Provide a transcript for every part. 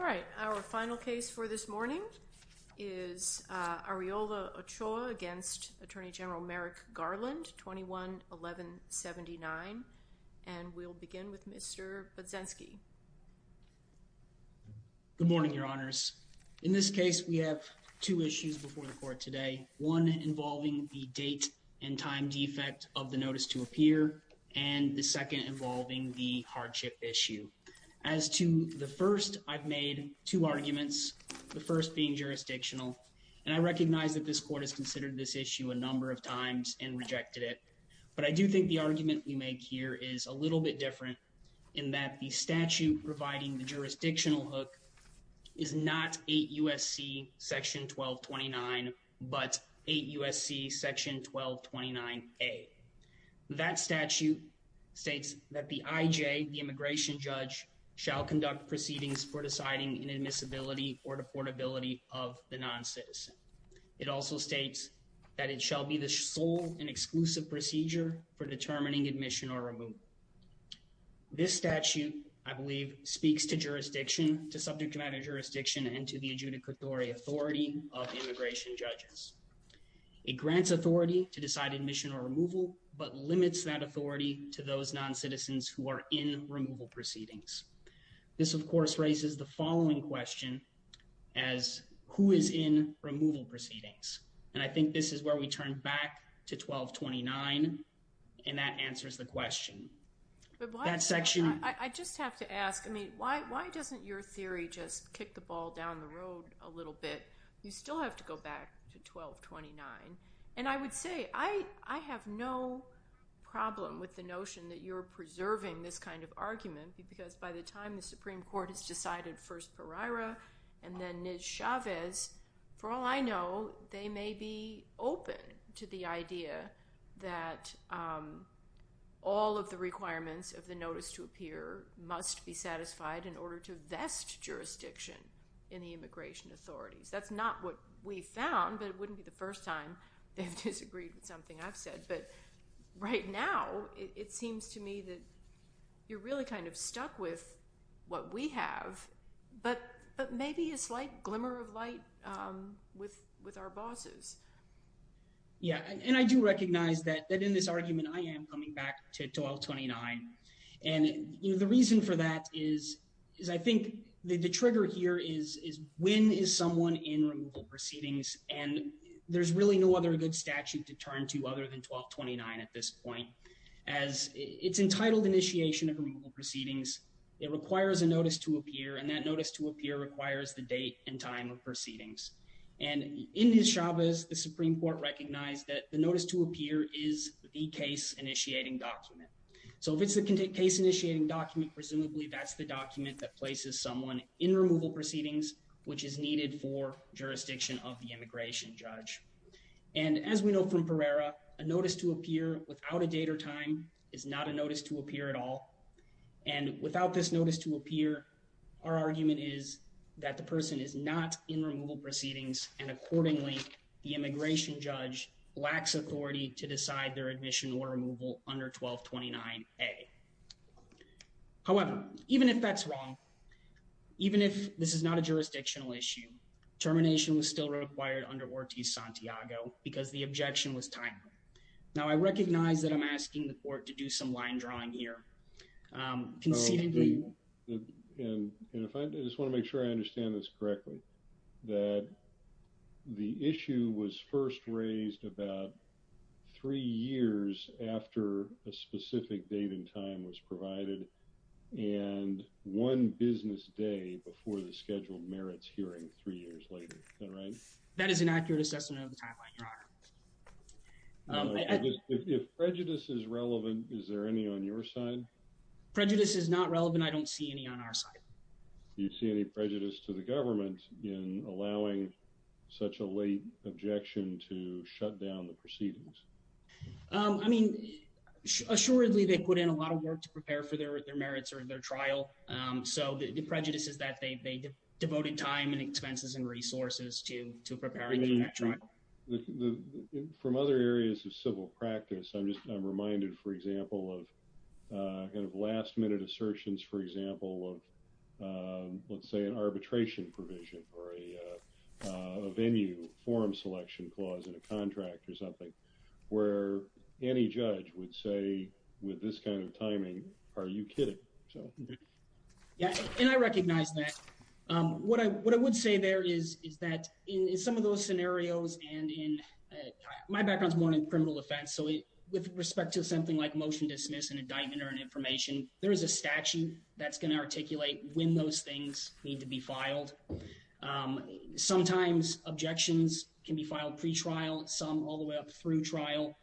All right, our final case for this morning is Arreola-Ochoa against Attorney General Merrick Garland, 21-11-79. And we'll begin with Mr. Budzinski. Good morning, Your Honors. In this case, we have two issues before the court today, one involving the date and time defect of the notice to appear, and the second involving the hardship issue. As to the first, I've made two arguments, the first being jurisdictional, and I recognize that this court has considered this issue a number of times and rejected it. But I do think the argument we make here is a little bit different in that the statute providing the jurisdictional hook is not 8 U.S.C. § 1229, but 8 U.S.C. § 1229A. That statute states that the I.J., the immigration judge, shall conduct proceedings for deciding inadmissibility or deportability of the noncitizen. It also states that it shall be the sole and exclusive procedure for determining admission or removal. This statute, I believe, speaks to jurisdiction, to subject matter jurisdiction, and to the adjudicatory authority of immigration judges. It grants authority to decide admission or removal, but limits that authority to those noncitizens who are in removal proceedings. This, of course, raises the following question as, who is in removal proceedings? And I think this is where we turn back to 1229, and that answers the question. That section— I just have to ask, I mean, why doesn't your theory just kick the ball down the road a little bit? You still have to go back to 1229. And I would say, I have no problem with the notion that you're preserving this kind of argument, because by the time the Supreme Court has decided first Pereira and then Niz Chavez, for all I know, they may be open to the idea that all of the requirements of the notice to appear must be satisfied in order to vest jurisdiction in the immigration authorities. That's not what we found, but it wouldn't be the first time they've disagreed with something I've said. But right now, it seems to me that you're really kind of stuck with what we have, but maybe a slight glimmer of light with our bosses. Yeah, and I do recognize that in this argument, I am coming back to 1229. And the reason for that is I think the trigger here is when is someone in removal proceedings, and there's really no other good statute to turn to other than 1229 at this point. As it's entitled initiation of removal proceedings, it requires a notice to appear, and that notice to appear requires the date and time of proceedings. And in Niz Chavez, the Supreme Court recognized that the notice to appear is the case initiating document. So if it's the case initiating document, presumably that's the document that places someone in removal proceedings, which is needed for jurisdiction of the immigration judge. And as we know from Pereira, a notice to appear without a date or time is not a notice to appear at all. And without this notice to appear, our argument is that the person is not in removal proceedings, and accordingly, the immigration judge lacks authority to decide their admission or removal under 1229A. However, even if that's wrong, even if this is not a jurisdictional issue, termination was still required under Ortiz-Santiago because the objection was timely. Now, I recognize that I'm asking the court to do some line drawing here. And if I just want to make sure I understand this correctly, that the issue was first raised about three years after a specific date and time was provided, and one business day before the scheduled merits hearing three years later, right? That is an accurate assessment of the timeline, Your Honor. If prejudice is relevant, is there any on your side? Prejudice is not relevant. I don't see any on our side. Do you see any prejudice to the government in allowing such a late objection to shut down the proceedings? I mean, assuredly, they put in a lot of work to prepare for their merits or their trial. So the prejudice is that they devoted time and expenses and resources to preparing for that trial. From other areas of civil practice, I'm reminded, for example, of kind of last-minute assertions, for example, of, let's say, an arbitration provision or a venue form selection clause in a contract or something, where any judge would say, with this kind of timing, are you kidding? And I recognize that. What I would say there is that in some of those scenarios, and my background is more in criminal defense, so with respect to something like motion dismiss and indictment or an information, there is a statute that's going to articulate when those things need to be filed. Sometimes objections can be filed pretrial, some all the way up through trial,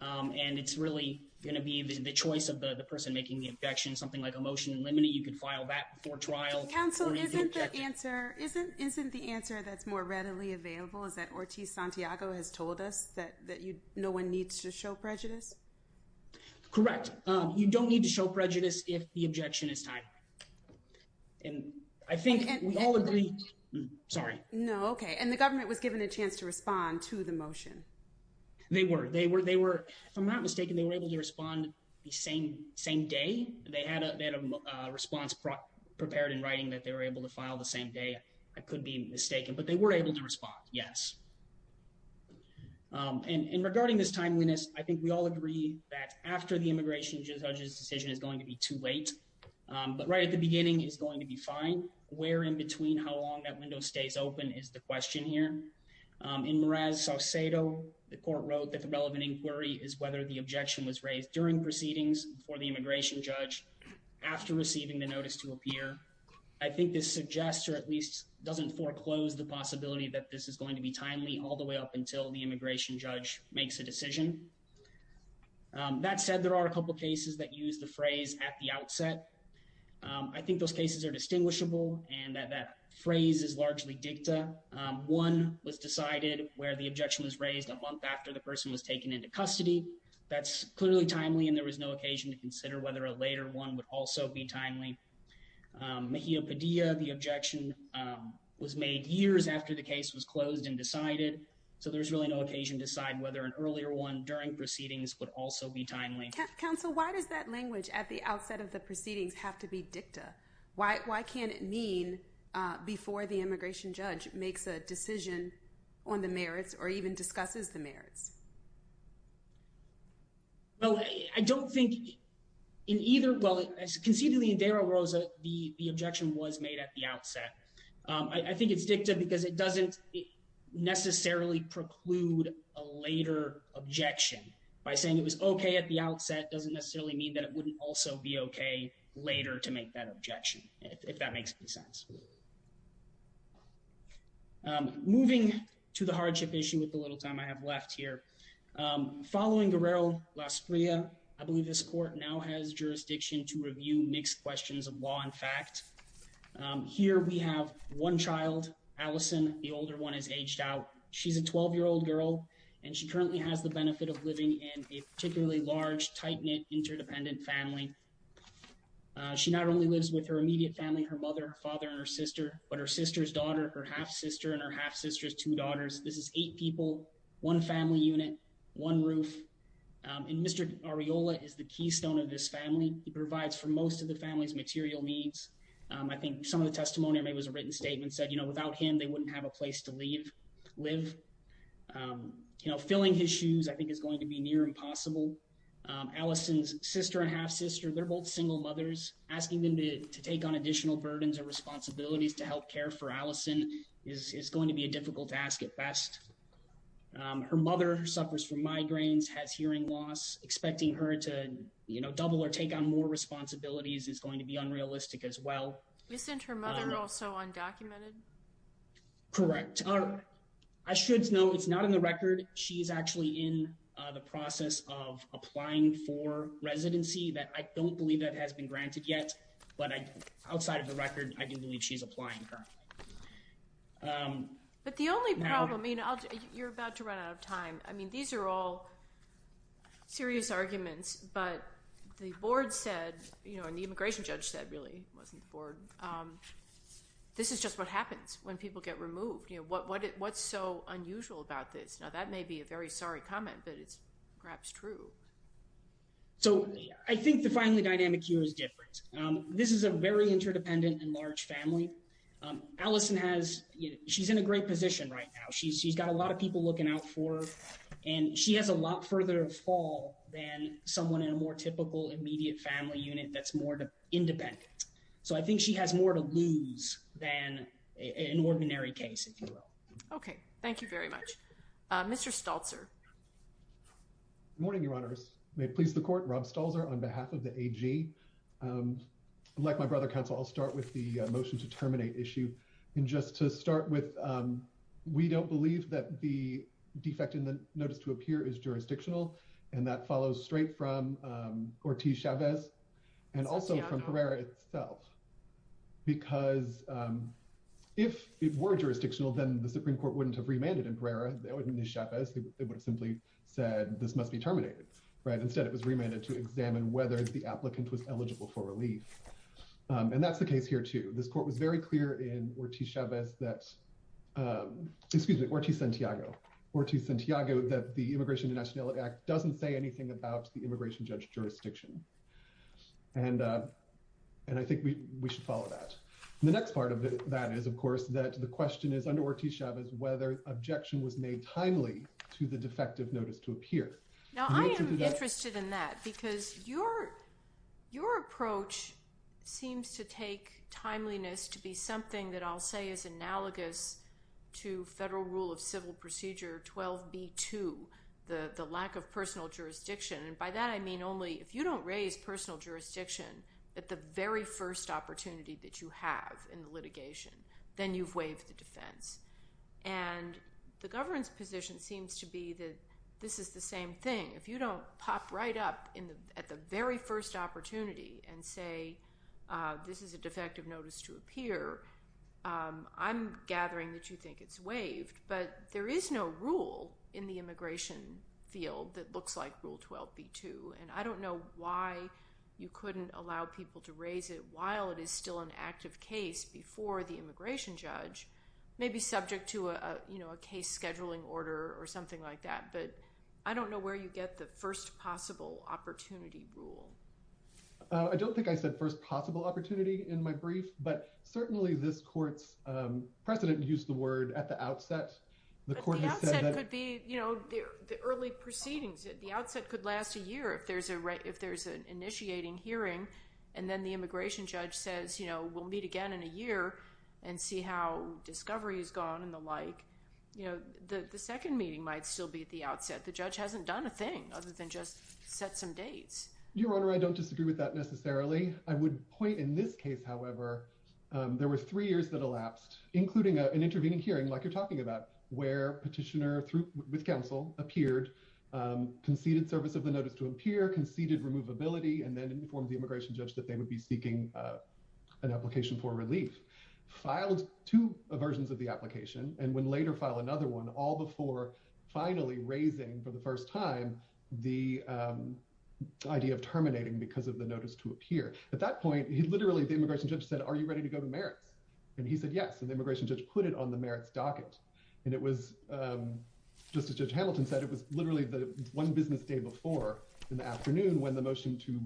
and it's really going to be the choice of the person making the objection. You could file that before trial. Counsel, isn't the answer that's more readily available is that Ortiz-Santiago has told us that no one needs to show prejudice? Correct. You don't need to show prejudice if the objection is tied. And I think we all agree. Sorry. No, okay. And the government was given a chance to respond to the motion. They were. They were. If I'm not mistaken, they were able to respond the same day. They had a response prepared in writing that they were able to file the same day. I could be mistaken, but they were able to respond, yes. And regarding this timeliness, I think we all agree that after the immigration judge's decision is going to be too late, but right at the beginning is going to be fine. Where in between how long that window stays open is the question here. In Mraz-Saucedo, the court wrote that the relevant inquiry is whether the objection was raised during proceedings for the immigration judge after receiving the notice to appear. I think this suggests or at least doesn't foreclose the possibility that this is going to be timely all the way up until the immigration judge makes a decision. That said, there are a couple of cases that use the phrase at the outset. I think those cases are distinguishable and that that phrase is largely dicta. One was decided where the objection was raised a month after the person was taken into custody. That's clearly timely and there was no occasion to consider whether a later one would also be timely. Mejia-Padilla, the objection was made years after the case was closed and decided. So there's really no occasion to decide whether an earlier one during proceedings would also be timely. Counsel, why does that language at the outset of the proceedings have to be dicta? Why can't it mean before the immigration judge makes a decision on the merits or even discusses the merits? Well, I don't think in either. Well, concedingly, in Dara Rosa, the objection was made at the outset. I think it's dicta because it doesn't necessarily preclude a later objection. By saying it was OK at the outset doesn't necessarily mean that it wouldn't also be OK later to make that objection, if that makes sense. Moving to the hardship issue with the little time I have left here. Following Guerrero-Lasprilla, I believe this court now has jurisdiction to review mixed questions of law and fact. Here we have one child, Allison. The older one is aged out. She's a 12-year-old girl, and she currently has the benefit of living in a particularly large, tight-knit, interdependent family. She not only lives with her immediate family, her mother, her father, and her sister, but her sister's daughter, her half-sister, and her half-sister's two daughters. This is eight people, one family unit, one roof. And Mr. Arriola is the keystone of this family. He provides for most of the family's material needs. I think some of the testimony I made was a written statement that said, you know, without him, they wouldn't have a place to live. You know, filling his shoes, I think, is going to be near impossible. Allison's sister and half-sister, they're both single mothers. Asking them to take on additional burdens or responsibilities to help care for Allison is going to be a difficult task at best. Her mother suffers from migraines, has hearing loss. Expecting her to, you know, double or take on more responsibilities is going to be unrealistic as well. Isn't her mother also undocumented? Correct. I should note, it's not in the record. She's actually in the process of applying for residency. I don't believe that has been granted yet, but outside of the record, I do believe she's applying currently. But the only problem, you know, you're about to run out of time. I mean, these are all serious arguments, but the board said, you know, and the immigration judge said, really, it wasn't the board. This is just what happens when people get removed. You know, what's so unusual about this? Now, that may be a very sorry comment, but it's perhaps true. So, I think the finally dynamic here is different. This is a very interdependent and large family. Allison has, you know, she's in a great position right now. She's got a lot of people looking out for her, and she has a lot further to fall than someone in a more typical immediate family unit that's more independent. So, I think she has more to lose than an ordinary case, if you will. Okay. Thank you very much. Mr. Staltzer. Good morning, Your Honors. May it please the Court, Rob Staltzer on behalf of the AG. Like my brother counsel, I'll start with the motion to terminate issue. And just to start with, we don't believe that the defect in the notice to appear is jurisdictional. And that follows straight from Ortiz-Chavez and also from Pereira itself. Because if it were jurisdictional, then the Supreme Court wouldn't have remanded in Pereira. They wouldn't have used Chavez. They would have simply said, this must be terminated, right? And that's the case here, too. This Court was very clear in Ortiz-Santiago that the Immigration and Nationality Act doesn't say anything about the immigration jurisdiction. And I think we should follow that. The next part of that is, of course, that the question is, under Ortiz-Chavez, whether objection was made timely to the defective notice to appear. Now, I am interested in that. Because your approach seems to take timeliness to be something that I'll say is analogous to Federal Rule of Civil Procedure 12b2, the lack of personal jurisdiction. And by that, I mean only, if you don't raise personal jurisdiction at the very first opportunity that you have in the litigation, then you've waived the defense. And the governance position seems to be that this is the same thing. If you don't pop right up at the very first opportunity and say, this is a defective notice to appear, I'm gathering that you think it's waived. But there is no rule in the immigration field that looks like Rule 12b2. And I don't know why you couldn't allow people to raise it while it is still an active case before the immigration judge, maybe subject to a case scheduling order or something like that. But I don't know where you get the first possible opportunity rule. I don't think I said first possible opportunity in my brief. But certainly, this court's president used the word at the outset. But the outset could be the early proceedings. The outset could last a year if there's an initiating hearing. And then the immigration judge says, we'll meet again in a year and see how discovery has gone and the like. The second meeting might still be at the outset. The judge hasn't done a thing other than just set some dates. Your Honor, I don't disagree with that necessarily. I would point in this case, however, there were three years that elapsed, including an intervening hearing like you're talking about, where petitioner with counsel appeared, conceded service of the notice to appear, conceded removability, and then informed the immigration judge that they would be seeking an application for relief. Filed two versions of the application and would later file another one, all before finally raising for the first time the idea of terminating because of the notice to appear. At that point, literally, the immigration judge said, are you ready to go to merits? And he said yes. And the immigration judge put it on the merits docket. And it was, just as Judge Hamilton said, it was literally the one business day before in the afternoon when the motion to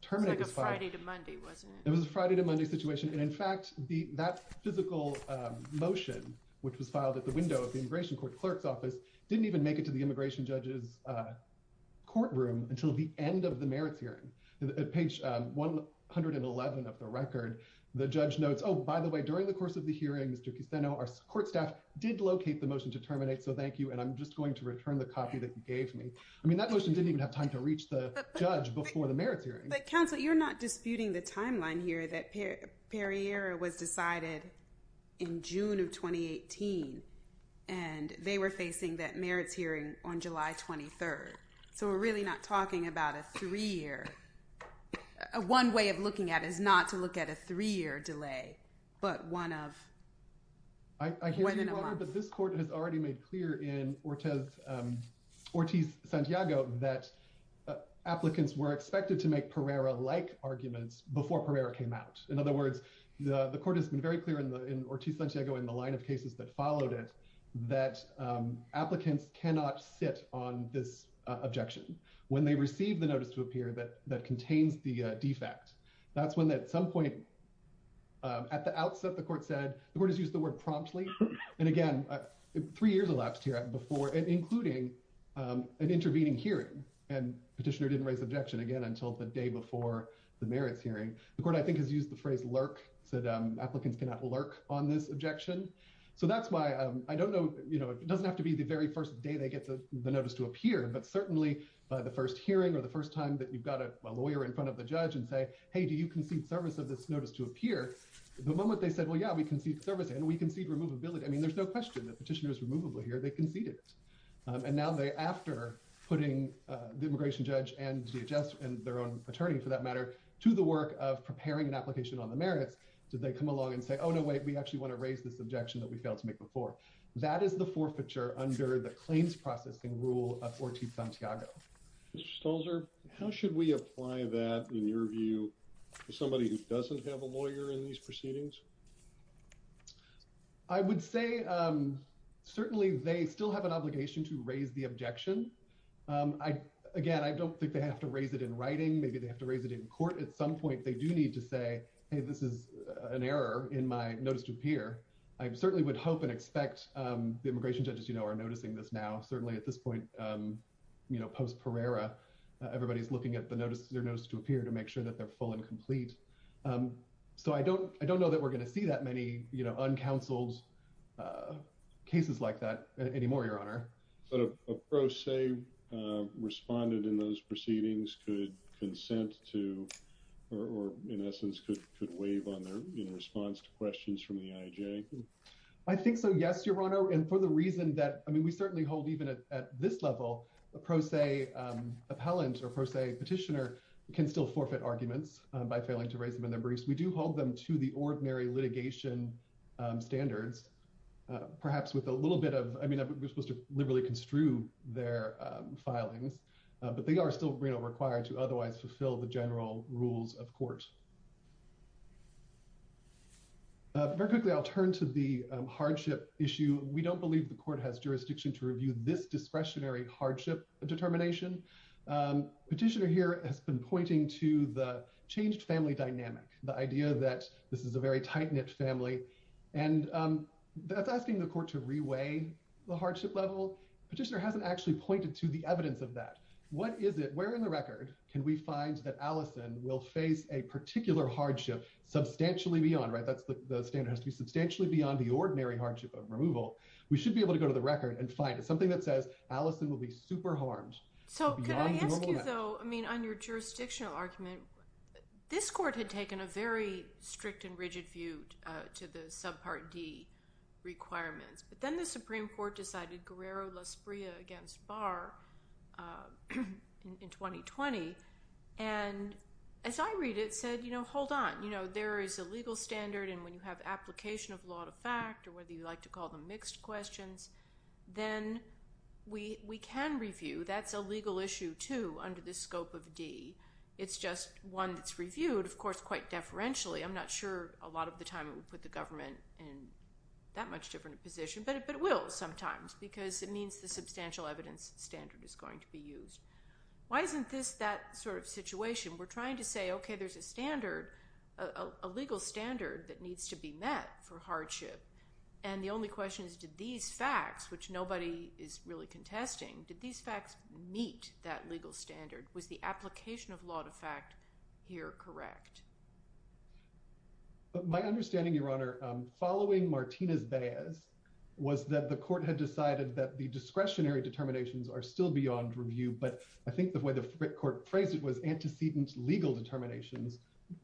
terminate was filed. It was like a Friday to Monday, wasn't it? It was a Friday to Monday situation. And in fact, that physical motion, which was filed at the window of the immigration court clerk's office, didn't even make it to the immigration judge's courtroom until the end of the merits hearing. At page 111 of the record, the judge notes, oh, by the way, during the course of the hearing, Mr. Kusteno, our court staff did locate the motion to terminate. So thank you. And I'm just going to return the copy that you gave me. I mean, that motion didn't even have time to reach the judge before the merits hearing. But counsel, you're not disputing the timeline here that Pereira was decided in June of 2018. And they were facing that merits hearing on July 23. So we're really not talking about a three-year. One way of looking at it is not to look at a three-year delay, but one of when in a month. I hear you, Your Honor, but this court has already made clear in Ortiz-Santiago that applicants were expected to make Pereira-like arguments before Pereira came out. In other words, the court has been very clear in Ortiz-Santiago and the line of cases that followed it that applicants cannot sit on this objection when they receive the notice to appear that contains the defect. That's when at some point at the outset, the court said, the court has used the word promptly. And again, three years elapsed here before, including an intervening hearing. And petitioner didn't raise objection again until the day before the merits hearing. The court, I think, has used the phrase lurk, said applicants cannot lurk on this objection. So that's why, I don't know, it doesn't have to be the very first day they get the notice to appear, but certainly by the first hearing or the first time that you've got a lawyer in front of the judge and say, hey, do you concede service of this notice to appear? The moment they said, well, yeah, we concede service and we concede removability. I mean, there's no question that petitioner is removable here. They conceded it. And now they, after putting the immigration judge and DHS and their own attorney, for that matter, to the work of preparing an application on the merits, did they come along and say, oh, no, wait, we actually want to raise this objection that we failed to make before. That is the forfeiture under the claims processing rule of Ortiz Santiago. Mr. Stolzer, how should we apply that, in your view, to somebody who doesn't have a lawyer in these proceedings? I would say certainly they still have an obligation to raise the objection. Again, I don't think they have to raise it in writing. Maybe they have to raise it in court. At some point, they do need to say, hey, this is an error in my notice to appear. I certainly would hope and expect the immigration judges, you know, are noticing this now. Certainly at this point, you know, post-Perera, everybody's looking at their notice to appear to make sure that they're full and complete. So I don't know that we're going to see that many, you know, uncounseled cases like that anymore, Your Honor. But a pro se responded in those proceedings could consent to or, in essence, could waive in response to questions from the IJ? I think so, yes, Your Honor. And for the reason that, I mean, we certainly hold even at this level, a pro se appellant or pro se petitioner can still forfeit arguments by failing to raise them in their briefs. We do hold them to the ordinary litigation standards, perhaps with a little bit of, I mean, we're supposed to liberally construe their filings. But they are still, you know, required to otherwise fulfill the general rules of court. Very quickly, I'll turn to the hardship issue. We don't believe the court has jurisdiction to review this discretionary hardship determination. Petitioner here has been pointing to the changed family dynamic, the idea that this is a very tight knit family. And that's asking the court to reweigh the hardship level. Petitioner hasn't actually pointed to the evidence of that. What is it, where in the record can we find that Allison will face a particular hardship substantially beyond, right? The standard has to be substantially beyond the ordinary hardship of removal. We should be able to go to the record and find it. Something that says Allison will be super harmed. So could I ask you, though, I mean, on your jurisdictional argument, this court had taken a very strict and rigid view to the subpart D requirements. But then the Supreme Court decided Guerrero-Lasprilla against Barr in 2020. And as I read it, it said, you know, hold on. You know, there is a legal standard. And when you have application of law to fact or whether you like to call them mixed questions, then we can review. That's a legal issue, too, under the scope of D. It's just one that's reviewed, of course, quite deferentially. I'm not sure a lot of the time it would put the government in that much different position. But it will sometimes because it means the substantial evidence standard is going to be used. Why isn't this that sort of situation? We're trying to say, okay, there's a standard, a legal standard that needs to be met for hardship. And the only question is did these facts, which nobody is really contesting, did these facts meet that legal standard? Was the application of law to fact here correct? My understanding, Your Honor, following Martinez-Baez was that the court had decided that the discretionary determinations are still beyond review. But I think the way the court phrased it was antecedent legal determinations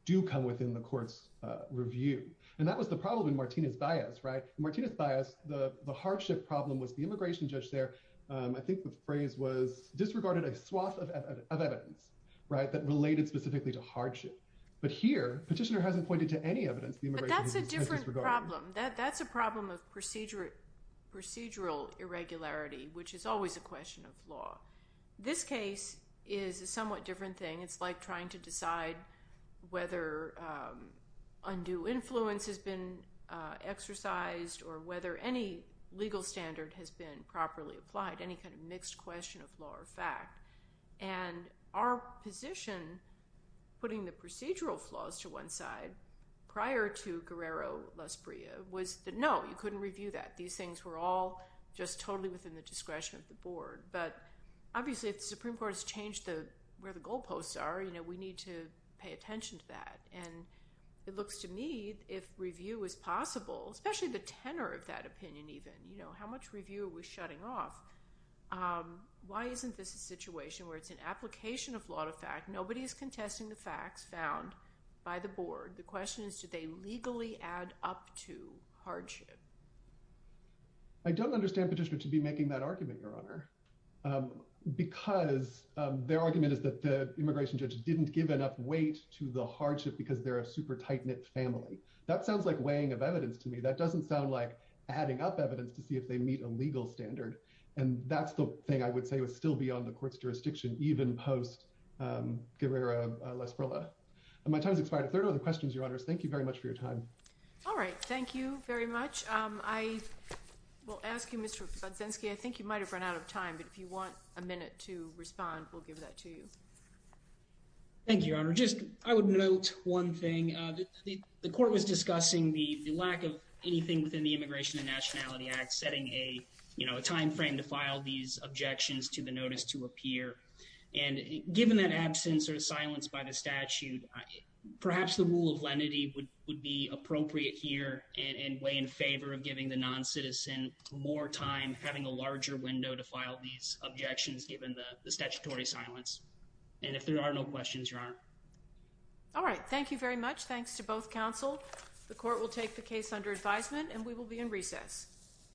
do come within the court's review. And that was the problem in Martinez-Baez, right? Martinez-Baez, the hardship problem was the immigration judge there. I think the phrase was disregarded a swath of evidence that related specifically to hardship. But here, Petitioner hasn't pointed to any evidence the immigration judge has disregarded. But that's a different problem. That's a problem of procedural irregularity, which is always a question of law. This case is a somewhat different thing. It's like trying to decide whether undue influence has been exercised or whether any legal standard has been properly applied, any kind of mixed question of law or fact. And our position putting the procedural flaws to one side prior to Guerrero-Lasprilla was that, no, you couldn't review that. These things were all just totally within the discretion of the board. But obviously, if the Supreme Court has changed where the goalposts are, we need to pay attention to that. And it looks to me, if review is possible, especially the tenor of that opinion even, how much review are we shutting off? Why isn't this a situation where it's an application of law to fact? Nobody is contesting the facts found by the board. The question is, do they legally add up to hardship? I don't understand Petitioner to be making that argument, Your Honor, because their argument is that the immigration judge didn't give enough weight to the hardship because they're a super tight-knit family. That sounds like weighing of evidence to me. That doesn't sound like adding up evidence to see if they meet a legal standard. And that's the thing I would say was still beyond the court's jurisdiction, even post-Guerrero-Lasprilla. My time has expired. If there are no other questions, Your Honors, thank you very much for your time. All right. Thank you very much. I will ask you, Mr. Podzinski, I think you might have run out of time, but if you want a minute to respond, we'll give that to you. Thank you, Your Honor. Just I would note one thing. The court was discussing the lack of anything within the Immigration and Nationality Act, setting a timeframe to file these objections to the notice to appear. And given that absence or silence by the statute, perhaps the rule of lenity would be appropriate here and weigh in favor of giving the noncitizen more time having a larger window to file these objections given the statutory silence. And if there are no questions, Your Honor. All right. Thank you very much. Thanks to both counsel. The court will take the case under advisement, and we will be in recess.